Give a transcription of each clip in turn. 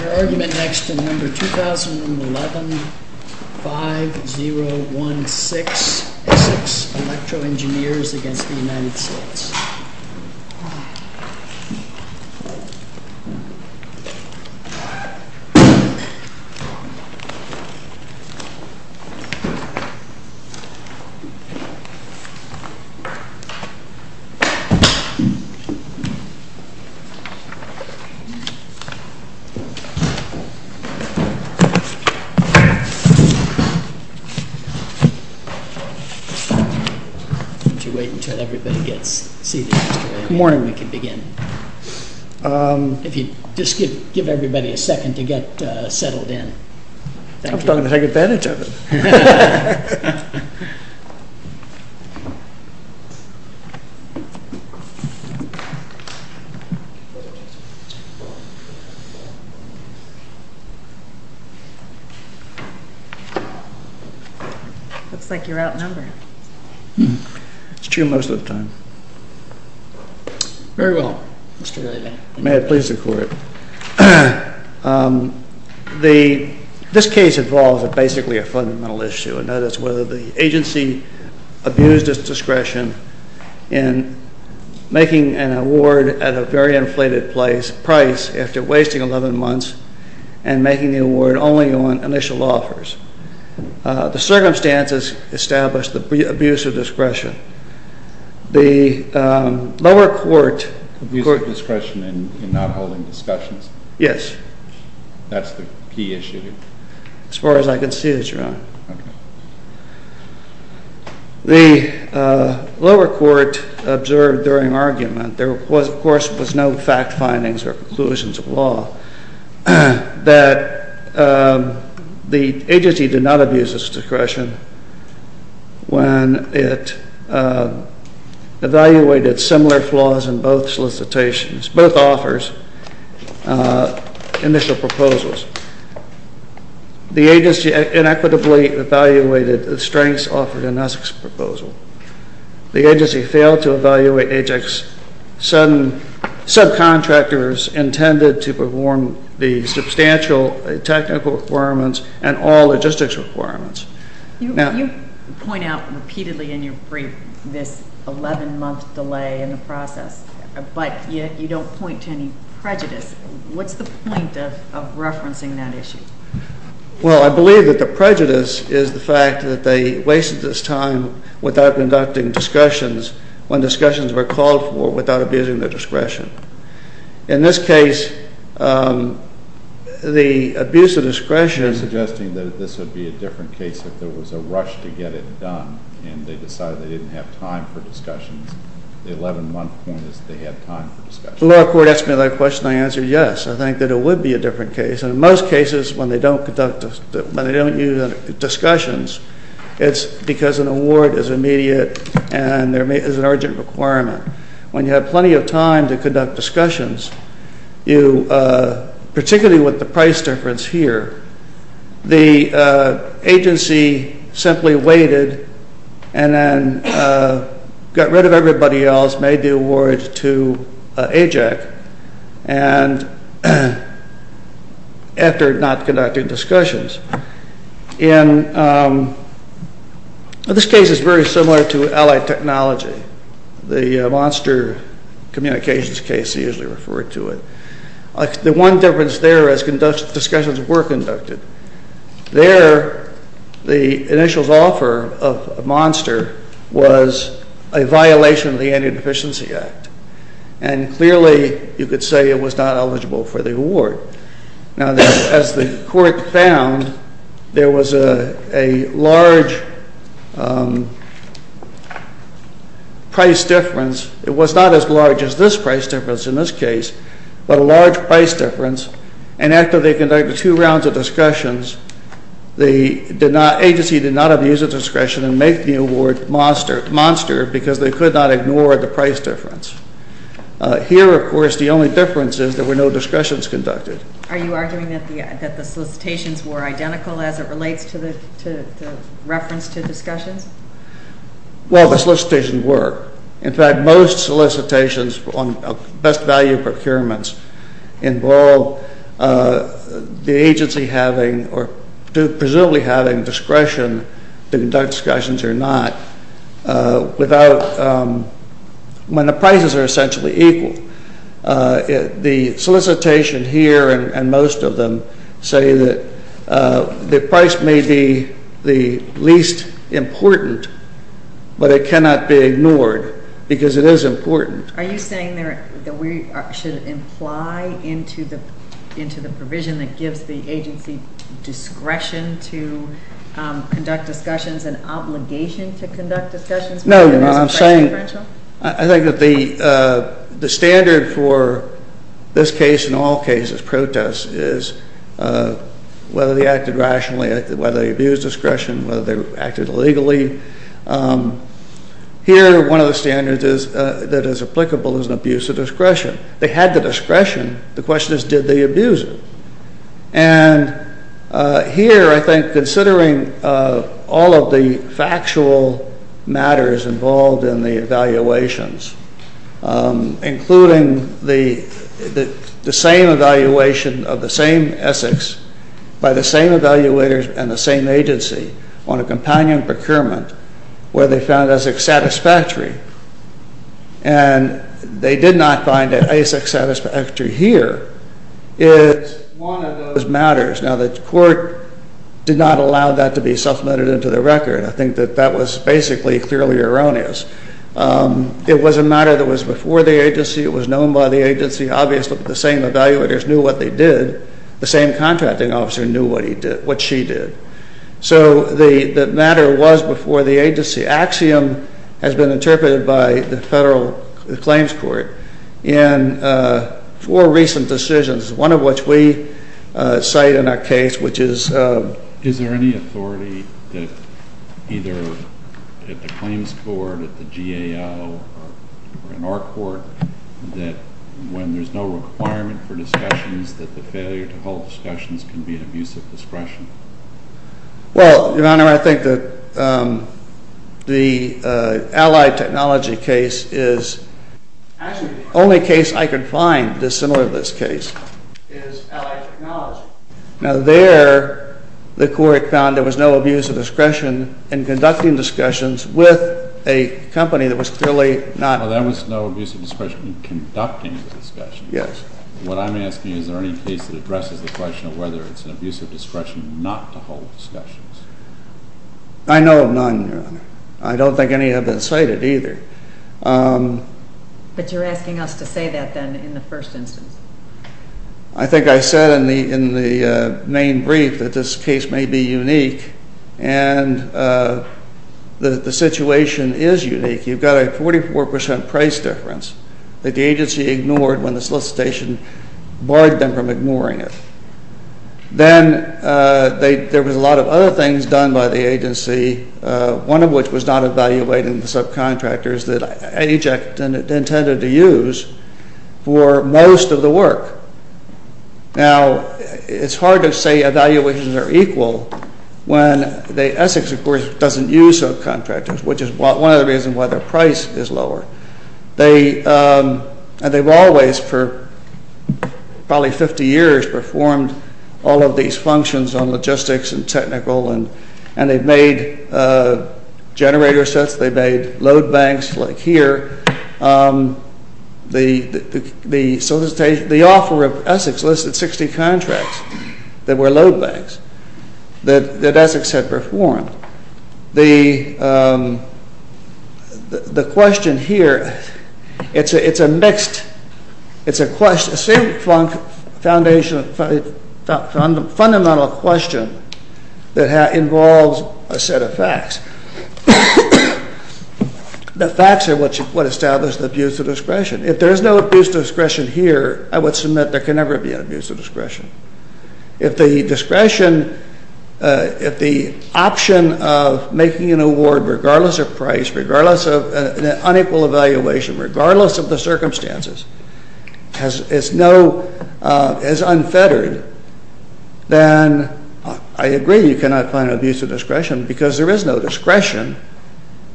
Your argument next in number 2011-5016 ESSEX ELECTRO ENGINEERS v. United States Why don't you wait until everybody gets seated so that in the morning we can begin. If you just give everybody a second to get settled in. I was talking to take advantage of it. Looks like you're outnumbered. It's true most of the time. Very well, Mr. Ailey. May it please the court. This case involves basically a fundamental issue, and that is whether the agency abused its discretion in making an award at a very inflated price after wasting 11 months and making the award only on initial offers. Abuse of discretion in not holding discussions? Yes. That's the key issue? As far as I can see, Your Honor. Okay. The lower court observed during argument, there of course was no fact findings or conclusions of law, that the agency did not abuse its discretion when it evaluated similar flaws in both solicitations, both offers, initial proposals. The agency inequitably evaluated the strengths offered in ESSEX's proposal. The agency failed to evaluate ESSEX's subcontractors intended to perform the substantial technical requirements and all logistics requirements. You point out repeatedly in your brief this 11-month delay in the process, but you don't point to any prejudice. What's the point of referencing that issue? Well, I believe that the prejudice is the fact that they wasted this time without conducting discussions when discussions were called for without abusing their discretion. In this case, the abuse of discretion… You're suggesting that this would be a different case if there was a rush to get it done and they decided they didn't have time for discussions. The 11-month point is they had time for discussions. The lower court asked me that question and I answered yes. I think that it would be a different case. In most cases, when they don't conduct discussions, it's because an award is immediate and there is an urgent requirement. When you have plenty of time to conduct discussions, particularly with the price difference here, the agency simply waited and then got rid of everybody else, made the award to AJAC, and after not conducting discussions. This case is very similar to Allied Technology. The monster communications case is usually referred to it. The one difference there is discussions were conducted. There, the initial offer of a monster was a violation of the Anti-Deficiency Act. And clearly, you could say it was not eligible for the award. Now, as the court found, there was a large price difference. It was not as large as this price difference in this case, but a large price difference. And after they conducted two rounds of discussions, the agency did not abuse of discretion and make the award monster because they could not ignore the price difference. Here, of course, the only difference is there were no discussions conducted. Are you arguing that the solicitations were identical as it relates to the reference to discussions? Well, the solicitations were. In fact, most solicitations on best value procurements involve the agency having or presumably having discretion to conduct discussions or not without when the prices are essentially equal. The solicitation here and most of them say that the price may be the least important, but it cannot be ignored because it is important. Are you saying that we should imply into the provision that gives the agency discretion to conduct discussions and obligation to conduct discussions? No. I'm saying I think that the standard for this case and all cases, protests, is whether they acted rationally, whether they abused discretion, whether they acted illegally. Here, one of the standards that is applicable is abuse of discretion. They had the discretion. The question is, did they abuse it? And here, I think, considering all of the factual matters involved in the evaluations, including the same evaluation of the same Essex by the same evaluators and the same agency on a companion procurement where they found Essex satisfactory and they did not find an Essex satisfactory here, is one of those matters. Now, the court did not allow that to be supplemented into the record. I think that that was basically clearly erroneous. It was a matter that was before the agency. It was known by the agency. Obviously, the same evaluators knew what they did. The same contracting officer knew what she did. So the matter was before the agency. Axiom has been interpreted by the federal claims court in four recent decisions, one of which we cite in our case, which is... Is there any authority that either at the claims board, at the GAO, or in our court, that when there's no requirement for discussions, that the failure to hold discussions can be an abuse of discretion? Well, Your Honor, I think that the Allied Technology case is... Actually, the only case I could find that's similar to this case is Allied Technology. Now, there, the court found there was no abuse of discretion in conducting discussions with a company that was clearly not... Well, there was no abuse of discretion in conducting the discussions. Yes. What I'm asking, is there any case that addresses the question of whether it's an abuse of discretion not to hold discussions? I know of none, Your Honor. I don't think any have been cited either. But you're asking us to say that, then, in the first instance? I think I said in the main brief that this case may be unique, and the situation is unique. You've got a 44% price difference that the agency ignored when the solicitation barred them from ignoring it. Then there was a lot of other things done by the agency, one of which was not evaluating the subcontractors that AJECT intended to use for most of the work. Now, it's hard to say evaluations are equal when the Essex, of course, doesn't use subcontractors, which is one of the reasons why their price is lower. They've always, for probably 50 years, performed all of these functions on logistics and technical, and they've made generator sets, they've made load banks like here. The offer of Essex listed 60 contracts that were load banks that Essex had performed. The question here, it's a mixed... It's a fundamental question that involves a set of facts. The facts are what establish the abuse of discretion. If there's no abuse of discretion here, I would submit there can never be an abuse of discretion. If the discretion, if the option of making an award regardless of price, regardless of unequal evaluation, regardless of the circumstances, is unfettered, then I agree you cannot find abuse of discretion because there is no discretion.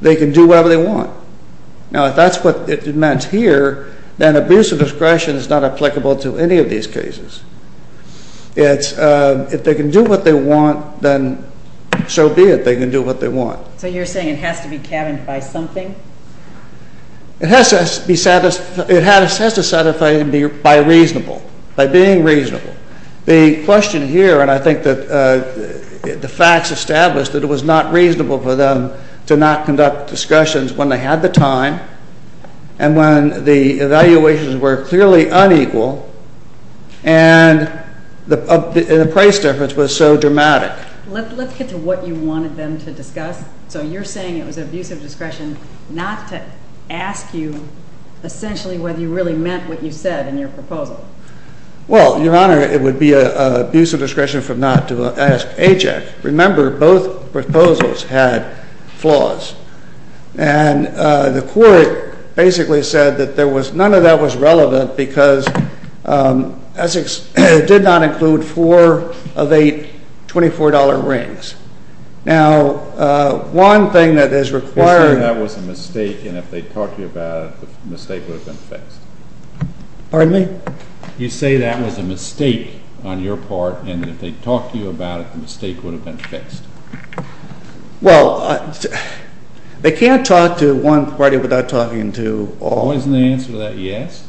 They can do whatever they want. Now, if that's what it meant here, then abuse of discretion is not applicable to any of these cases. If they can do what they want, then so be it. They can do what they want. So you're saying it has to be cabined by something? It has to be satisfied by reasonable, by being reasonable. The question here, and I think that the facts establish that it was not reasonable for them to not conduct discussions when they had the time and when the evaluations were clearly unequal and the price difference was so dramatic. Let's get to what you wanted them to discuss. So you're saying it was abuse of discretion not to ask you essentially whether you really meant what you said in your proposal. Well, Your Honor, it would be abuse of discretion not to ask AJAC. Remember, both proposals had flaws. And the Court basically said that none of that was relevant because Essex did not include four of eight $24 rings. Now, one thing that is required... You say that was a mistake, and if they talked to you about it, the mistake would have been fixed. Pardon me? You say that was a mistake on your part, Well, they can't talk to one party without talking to all. Wasn't the answer to that yes?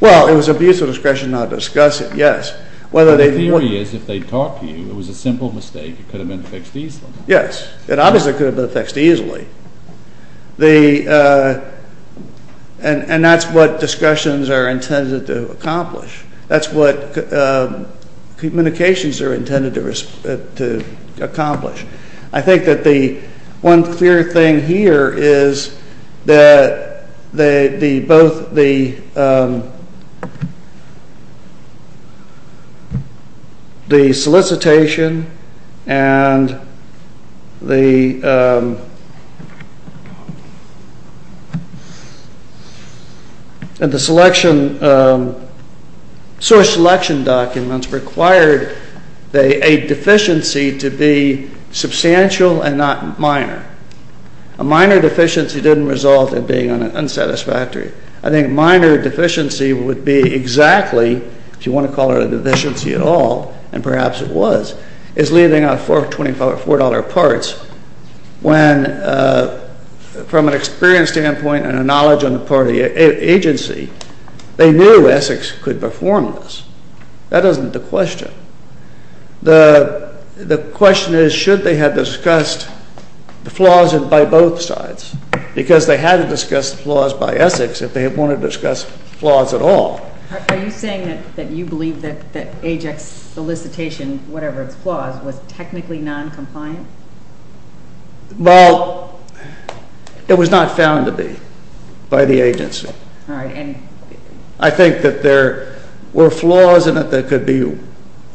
Well, it was abuse of discretion not to discuss it, yes. The theory is if they talked to you, it was a simple mistake. It could have been fixed easily. Yes, it obviously could have been fixed easily. And that's what discussions are intended to accomplish. That's what communications are intended to accomplish. I think that the one clear thing here is that both the solicitation and the source selection documents required a deficiency to be substantial and not minor. A minor deficiency didn't result in being unsatisfactory. I think a minor deficiency would be exactly, if you want to call it a deficiency at all, and perhaps it was, is leaving out four $24 parts when from an experience standpoint and a knowledge on the part of the agency, they knew Essex could perform this. That isn't the question. The question is should they have discussed the flaws by both sides because they had to discuss the flaws by Essex if they wanted to discuss flaws at all. Are you saying that you believe that Ajax solicitation, whatever its flaws, was technically non-compliant? Well, it was not found to be by the agency. All right. And I think that there were flaws in it that could be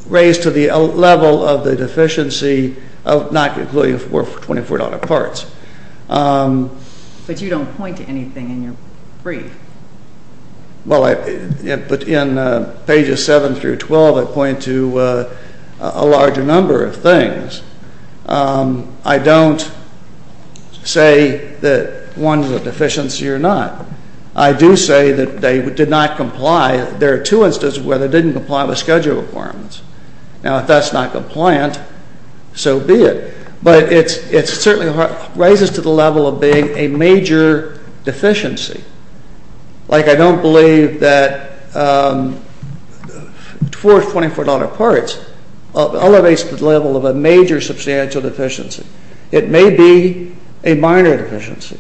raised to the level of the deficiency of not including four $24 parts. But you don't point to anything in your brief. Well, in pages 7 through 12, I point to a larger number of things. I don't say that one is a deficiency or not. I do say that they did not comply. There are two instances where they didn't comply with schedule requirements. Now, if that's not compliant, so be it. But it certainly raises to the level of being a major deficiency. Like I don't believe that four $24 parts elevates the level of a major substantial deficiency. It may be a minor deficiency.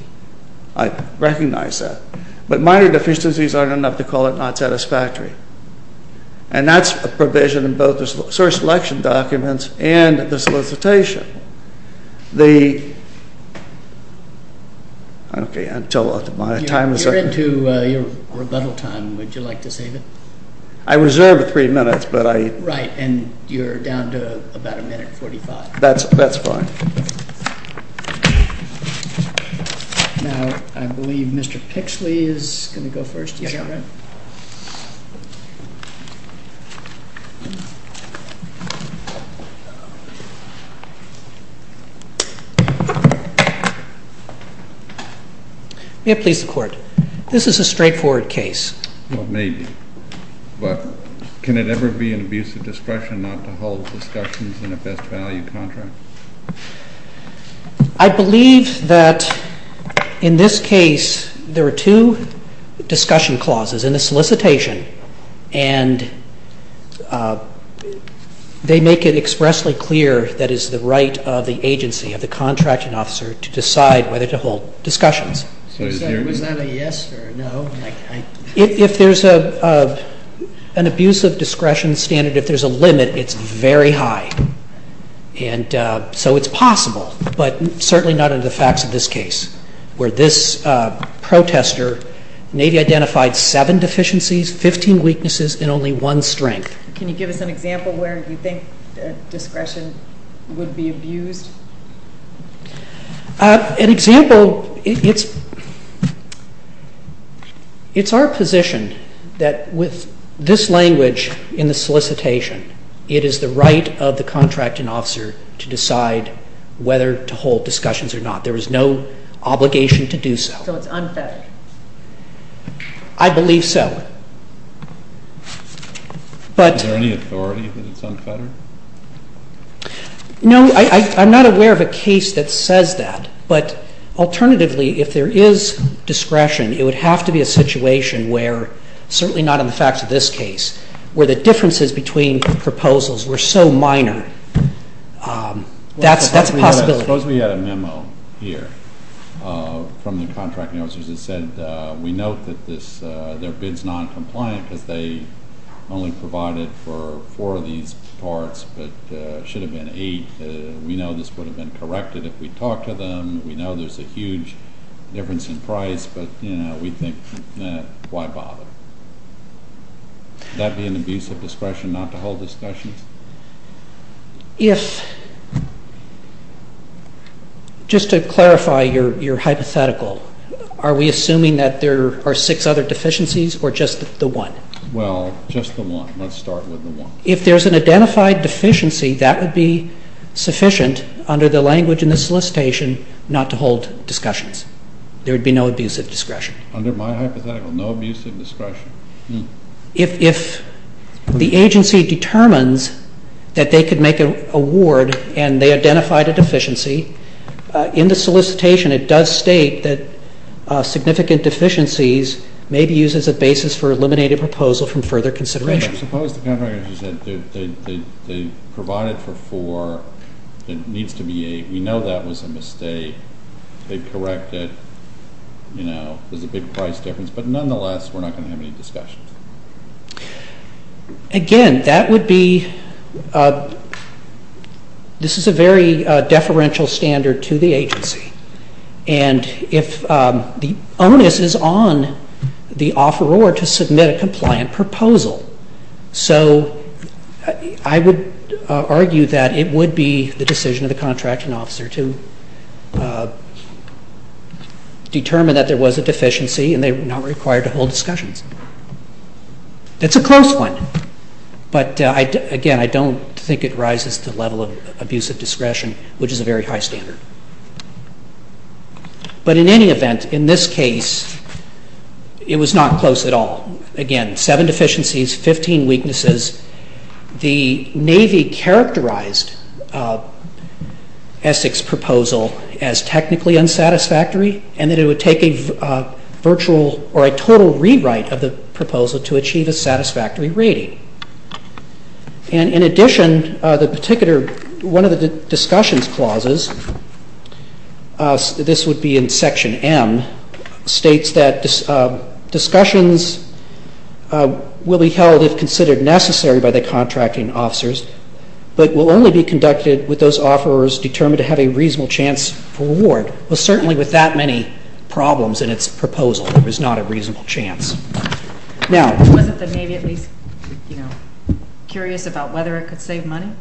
I recognize that. But minor deficiencies aren't enough to call it not satisfactory. And that's a provision in both the source selection documents and the solicitation. You're into your rebuttal time. Would you like to save it? I reserve three minutes. Right. And you're down to about a minute 45. That's fine. Now, I believe Mr. Pixley is going to go first. Yes, Your Honor. May it please the Court. This is a straightforward case. Well, it may be. But can it ever be an abuse of discretion not to hold discussions in a best value contract? I believe that in this case there are two discussion clauses in the solicitation. And they make it expressly clear that it's the right of the agency, of the contracting officer, to decide whether to hold discussions. So it's not a yes or a no? If there's an abuse of discretion standard, if there's a limit, it's very high. And so it's possible, but certainly not in the facts of this case, where this protester maybe identified seven deficiencies, 15 weaknesses, and only one strength. Can you give us an example where you think discretion would be abused? An example, it's our position that with this language in the solicitation, it is the right of the contracting officer to decide whether to hold discussions or not. There is no obligation to do so. So it's unfettered? I believe so. Is there any authority that it's unfettered? No, I'm not aware of a case that says that. But alternatively, if there is discretion, it would have to be a situation where, certainly not in the facts of this case, where the differences between proposals were so minor. That's a possibility. Suppose we had a memo here from the contracting officers that said, we note that their bid's noncompliant because they only provided for four of these parts, but it should have been eight. We know this would have been corrected if we talked to them. We know there's a huge difference in price, but we think, why bother? Would that be an abuse of discretion not to hold discussions? Just to clarify your hypothetical, are we assuming that there are six other deficiencies or just the one? Well, just the one. Let's start with the one. If there's an identified deficiency, that would be sufficient under the language in the solicitation not to hold discussions. There would be no abuse of discretion. Under my hypothetical, no abuse of discretion. If the agency determines that they could make an award and they identified a deficiency, in the solicitation it does state that significant deficiencies may be used as a basis for eliminating a proposal from further consideration. Suppose the contracting officer said they provided for four and it needs to be eight. We know that was a mistake. They correct it. You know, there's a big price difference, but nonetheless, we're not going to have any discussions. Again, that would be, this is a very deferential standard to the agency, and if the onus is on the offeror to submit a compliant proposal. So I would argue that it would be the decision of the contracting officer to determine that there was a deficiency and they were not required to hold discussions. It's a close one, but again, I don't think it rises to the level of abuse of discretion, which is a very high standard. But in any event, in this case, it was not close at all. Again, seven deficiencies, 15 weaknesses. The Navy characterized Essex's proposal as technically unsatisfactory and that it would take a virtual or a total rewrite of the proposal to achieve a satisfactory rating. And in addition, the particular, one of the discussions clauses, this would be in Section M, states that discussions will be held if considered necessary by the contracting officers, but will only be conducted with those offerors determined to have a reasonable chance for reward. Well, certainly with that many problems in its proposal, there was not a reasonable chance. Now... Wasn't the Navy at least, you know, curious about whether it could save money?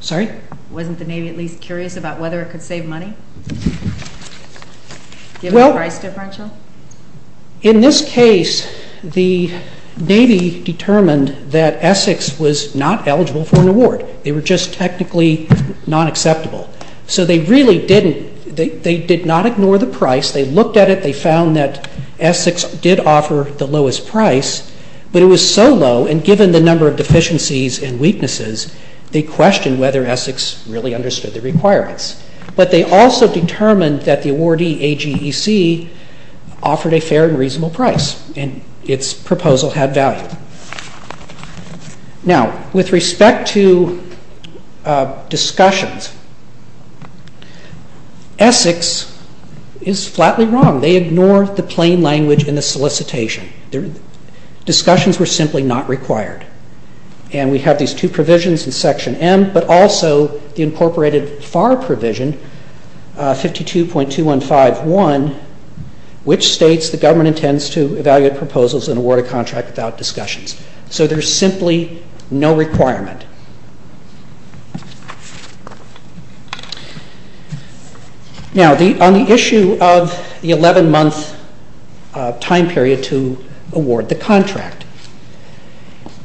Sorry? Wasn't the Navy at least curious about whether it could save money? Well... Given the price differential? In this case, the Navy determined that Essex was not eligible for an award. They were just technically not acceptable. So they really didn't, they did not ignore the price. They looked at it, they found that Essex did offer the lowest price, but it was so low and given the number of deficiencies and weaknesses, they questioned whether Essex really understood the requirements. But they also determined that the awardee, AGEC, offered a fair and reasonable price and its proposal had value. Now, with respect to discussions, Essex is flatly wrong. They ignore the plain language in the solicitation. Discussions were simply not required. And we have these two provisions in Section M, but also the incorporated FAR provision, 52.215.1, which states the government intends to evaluate proposals and award a contract without discussions. So there's simply no requirement. Now, on the issue of the 11-month time period to award the contract,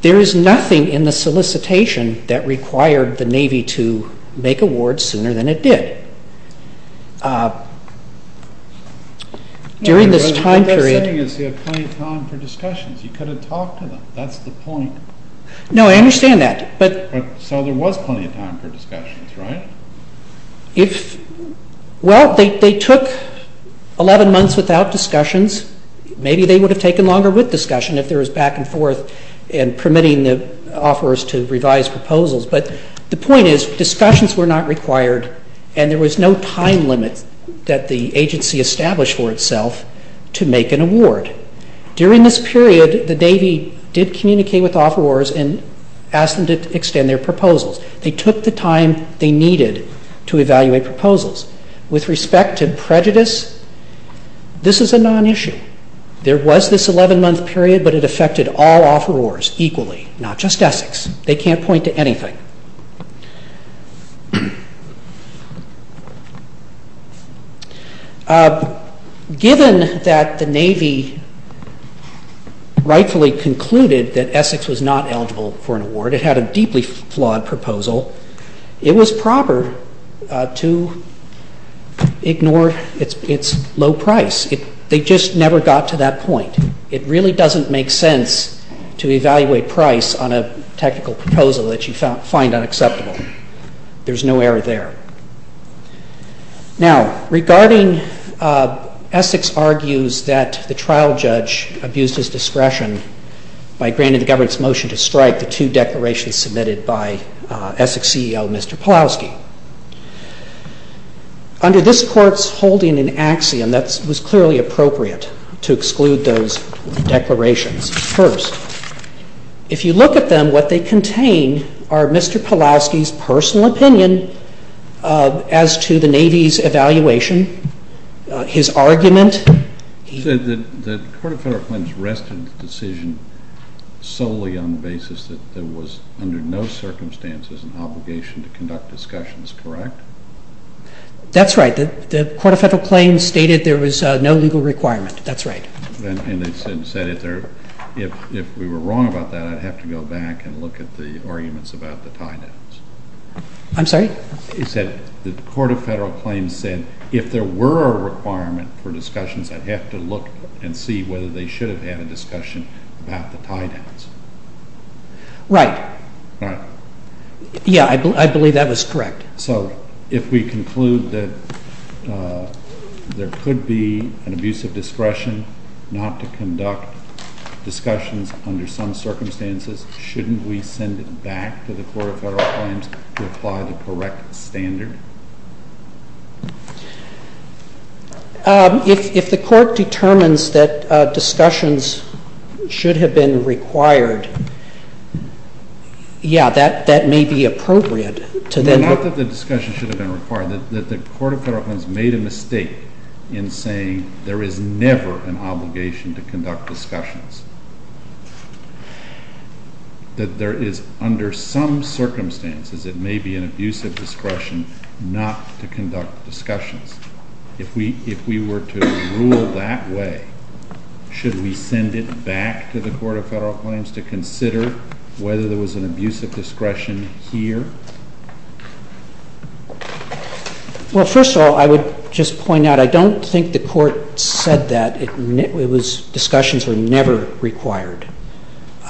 there is nothing in the solicitation that required the Navy to make awards sooner than it did. During this time period... What they're saying is they have plenty of time for discussions. You could have talked to them. That's the point. No, I understand that, but... So there was plenty of time for discussions, right? Well, they took 11 months without discussions. Maybe they would have taken longer with discussion if there was back and forth and permitting the offerors to revise proposals. But the point is discussions were not required and there was no time limit that the agency established for itself to make an award. During this period, the Navy did communicate with offerors and asked them to extend their proposals. They took the time they needed to evaluate proposals. With respect to prejudice, this is a non-issue. There was this 11-month period, but it affected all offerors equally, not just Essex. They can't point to anything. Given that the Navy rightfully concluded that Essex was not eligible for an award, it had a deeply flawed proposal, it was proper to ignore its low price. They just never got to that point. It really doesn't make sense to evaluate price on a technical proposal that you find unacceptable. There's no error there. Now, regarding Essex argues that the trial judge abused his discretion by granting the government's motion to strike the two declarations submitted by Essex CEO, Mr. Pawlowski. Under this Court's holding in axiom, that was clearly appropriate to exclude those declarations first. If you look at them, what they contain are Mr. Pawlowski's personal opinion as to the Navy's evaluation, his argument. He said that the Court of Federal Claims rested the decision solely on the basis that there was under no circumstances an obligation to conduct discussions, correct? That's right. The Court of Federal Claims stated there was no legal requirement. That's right. And they said if we were wrong about that, I'd have to go back and look at the arguments about the tie-downs. I'm sorry? He said the Court of Federal Claims said if there were a requirement for discussions, I'd have to look and see whether they should have had a discussion about the tie-downs. Right. Right. Yeah, I believe that was correct. So if we conclude that there could be an abuse of discretion not to conduct discussions under some circumstances, shouldn't we send it back to the Court of Federal Claims to apply the correct standard? If the Court determines that discussions should have been required, yeah, that may be appropriate to them. Not that the discussions should have been required. The Court of Federal Claims made a mistake in saying there is never an obligation to conduct discussions, that there is under some circumstances it may be an abuse of discretion not to conduct discussions. If we were to rule that way, should we send it back to the Court of Federal Claims to consider whether there was an abuse of discretion here? Well, first of all, I would just point out I don't think the Court said that discussions were never required.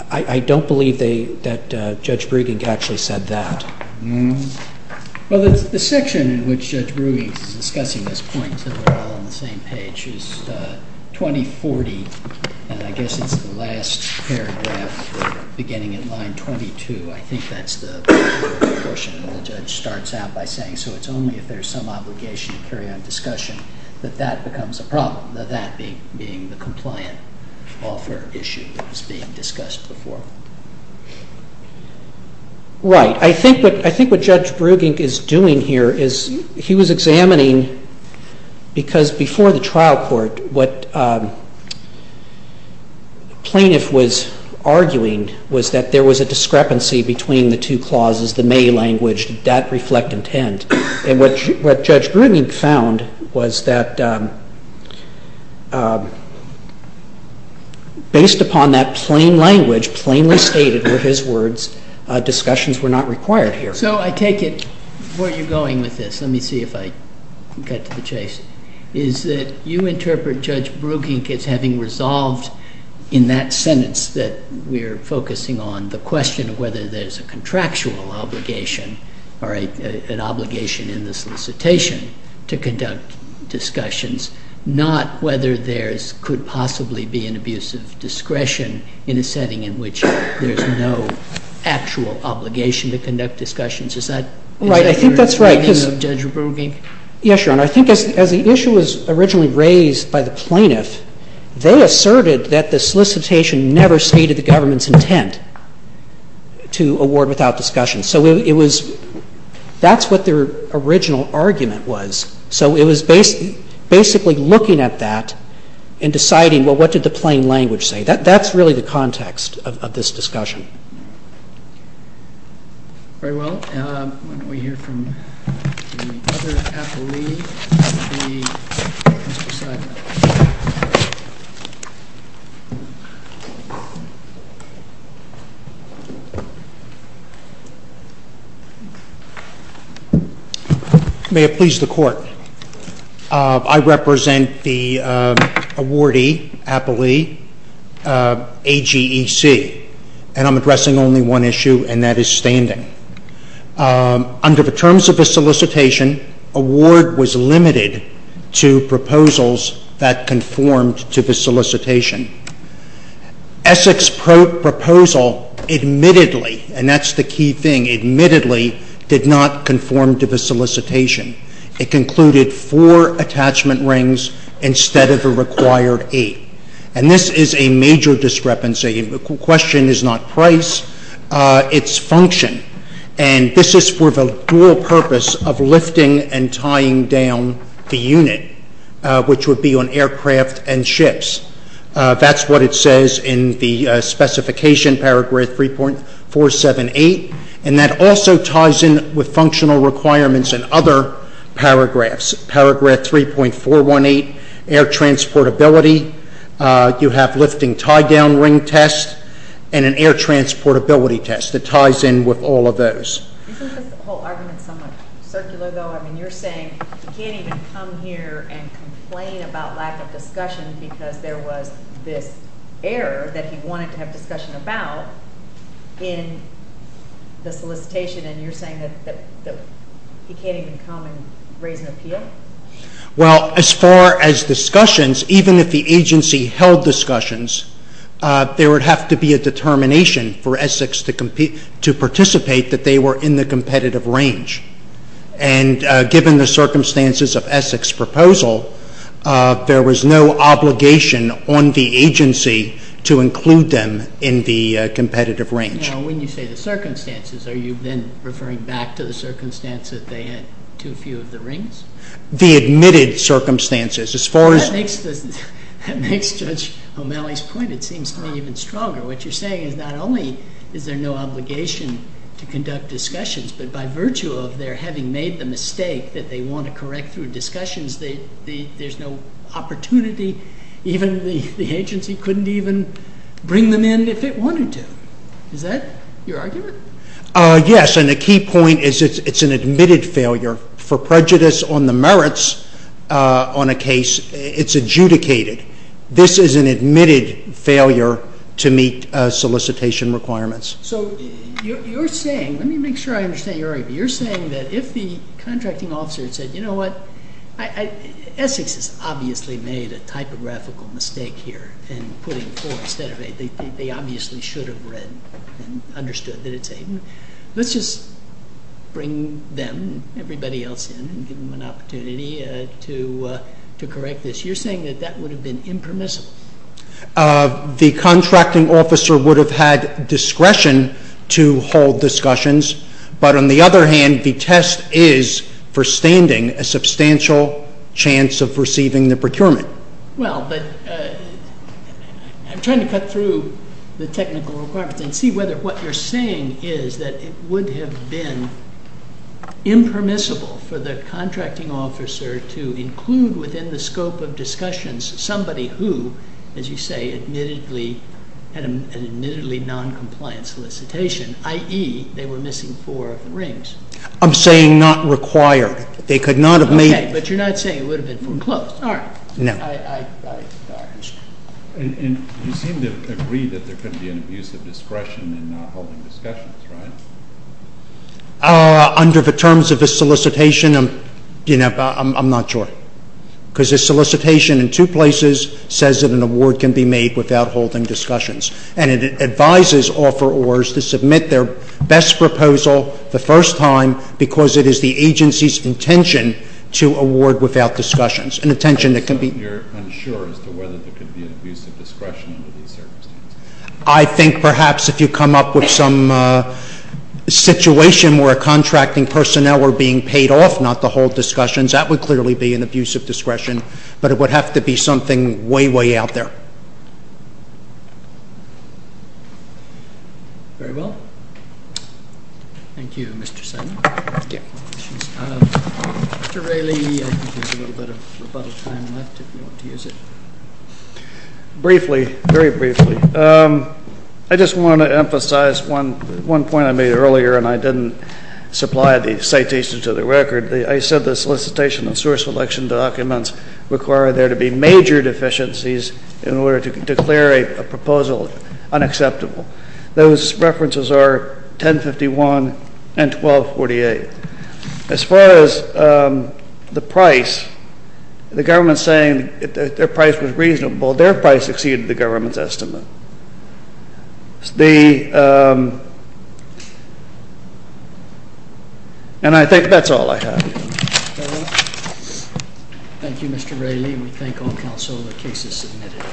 I don't believe that Judge Bruegge actually said that. Well, the section in which Judge Bruegge is discussing this point, since we're all on the same page, is 2040, and I guess it's the last paragraph beginning in line 22. I think that's the portion where the judge starts out by saying, so it's only if there's some obligation to carry on discussion that that becomes a problem, that being the compliant offer issue that was being discussed before. Right. I think what Judge Bruegge is doing here is he was examining, because before the trial court what the plaintiff was arguing was that there was a discrepancy between the two clauses, the may language, that reflect intent. And what Judge Bruegge found was that based upon that plain language, which plainly stated were his words, discussions were not required here. So I take it, where you're going with this, let me see if I can cut to the chase, is that you interpret Judge Bruegge as having resolved in that sentence that we're focusing on the question of whether there's a contractual obligation or an obligation in the solicitation to conduct discussions, not whether there could possibly be an abuse of discretion in a setting in which there's no actual obligation to conduct discussions. Is that your opinion of Judge Bruegge? Right. I think that's right. Yes, Your Honor. I think as the issue was originally raised by the plaintiff, they asserted that the solicitation never stated the government's intent to award without discussion. So it was, that's what their original argument was. So it was basically looking at that and deciding, well, what did the plain language say? That's really the context of this discussion. Very well. Why don't we hear from the other appellee. May it please the Court. I represent the awardee, appellee, AGEC, and I'm addressing only one issue, and that is standing. Under the terms of the solicitation, award was limited to proposals that conformed to the solicitation. Essex's proposal admittedly, and that's the key thing, admittedly did not conform to the solicitation. It concluded four attachment rings instead of the required eight. And this is a major discrepancy. The question is not price, it's function. And this is for the dual purpose of lifting and tying down the unit, which would be on aircraft and ships. That's what it says in the specification, paragraph 3.478, and that also ties in with functional requirements in other paragraphs. Paragraph 3.418, air transportability. You have lifting tie-down ring test and an air transportability test that ties in with all of those. Isn't this whole argument somewhat circular, though? I mean, you're saying he can't even come here and complain about lack of discussion because there was this error that he wanted to have discussion about in the solicitation, and you're saying that he can't even come and raise an appeal? Well, as far as discussions, even if the agency held discussions, there would have to be a determination for Essex to participate that they were in the competitive range. And given the circumstances of Essex's proposal, there was no obligation on the agency to include them in the competitive range. Now, when you say the circumstances, are you then referring back to the circumstance that they had too few of the rings? The admitted circumstances. Well, that makes Judge O'Malley's point, it seems to me, even stronger. What you're saying is not only is there no obligation to conduct discussions, but by virtue of their having made the mistake that they want to correct through discussions, there's no opportunity. Even the agency couldn't even bring them in if it wanted to. Is that your argument? Yes, and the key point is it's an admitted failure. For prejudice on the merits on a case, it's adjudicated. This is an admitted failure to meet solicitation requirements. So you're saying, let me make sure I understand your argument, you're saying that if the contracting officer had said, you know what, Essex has obviously made a typographical mistake here in putting four instead of eight. They obviously should have read and understood that it's eight. Let's just bring them, everybody else in, and give them an opportunity to correct this. You're saying that that would have been impermissible. The contracting officer would have had discretion to hold discussions, but on the other hand, the test is, for standing, a substantial chance of receiving the procurement. Well, but I'm trying to cut through the technical requirements and see whether what you're saying is that it would have been impermissible for the contracting officer to include within the scope of discussions somebody who, as you say, admittedly had an admittedly noncompliant solicitation, i.e., they were missing four of the rings. I'm saying not required. They could not have made it. Okay, but you're not saying it would have been foreclosed, are you? No. And you seem to agree that there couldn't be an abuse of discretion in not holding discussions, right? Under the terms of the solicitation, I'm not sure, because the solicitation in two places says that an award can be made without holding discussions, and it advises offerors to submit their best proposal the first time because it is the agency's intention to award without discussions, an intention that can be... So you're unsure as to whether there could be an abuse of discretion under these circumstances? I think perhaps if you come up with some situation where contracting personnel were being paid off, not to hold discussions, that would clearly be an abuse of discretion, but it would have to be something way, way out there. Very well. Thank you, Mr. Simon. Mr. Raley, I think there's a little bit of rebuttal time left if you want to use it. Briefly, very briefly, I just want to emphasize one point I made earlier, and I didn't supply the citation to the record. I said the solicitation and source collection documents require there to be major deficiencies in order to declare a proposal unacceptable. Those references are 1051 and 1248. As far as the price, the government's saying that their price was reasonable. Their price exceeded the government's estimate. And I think that's all I have. Thank you, Mr. Raley. We thank all counsel. The case is submitted.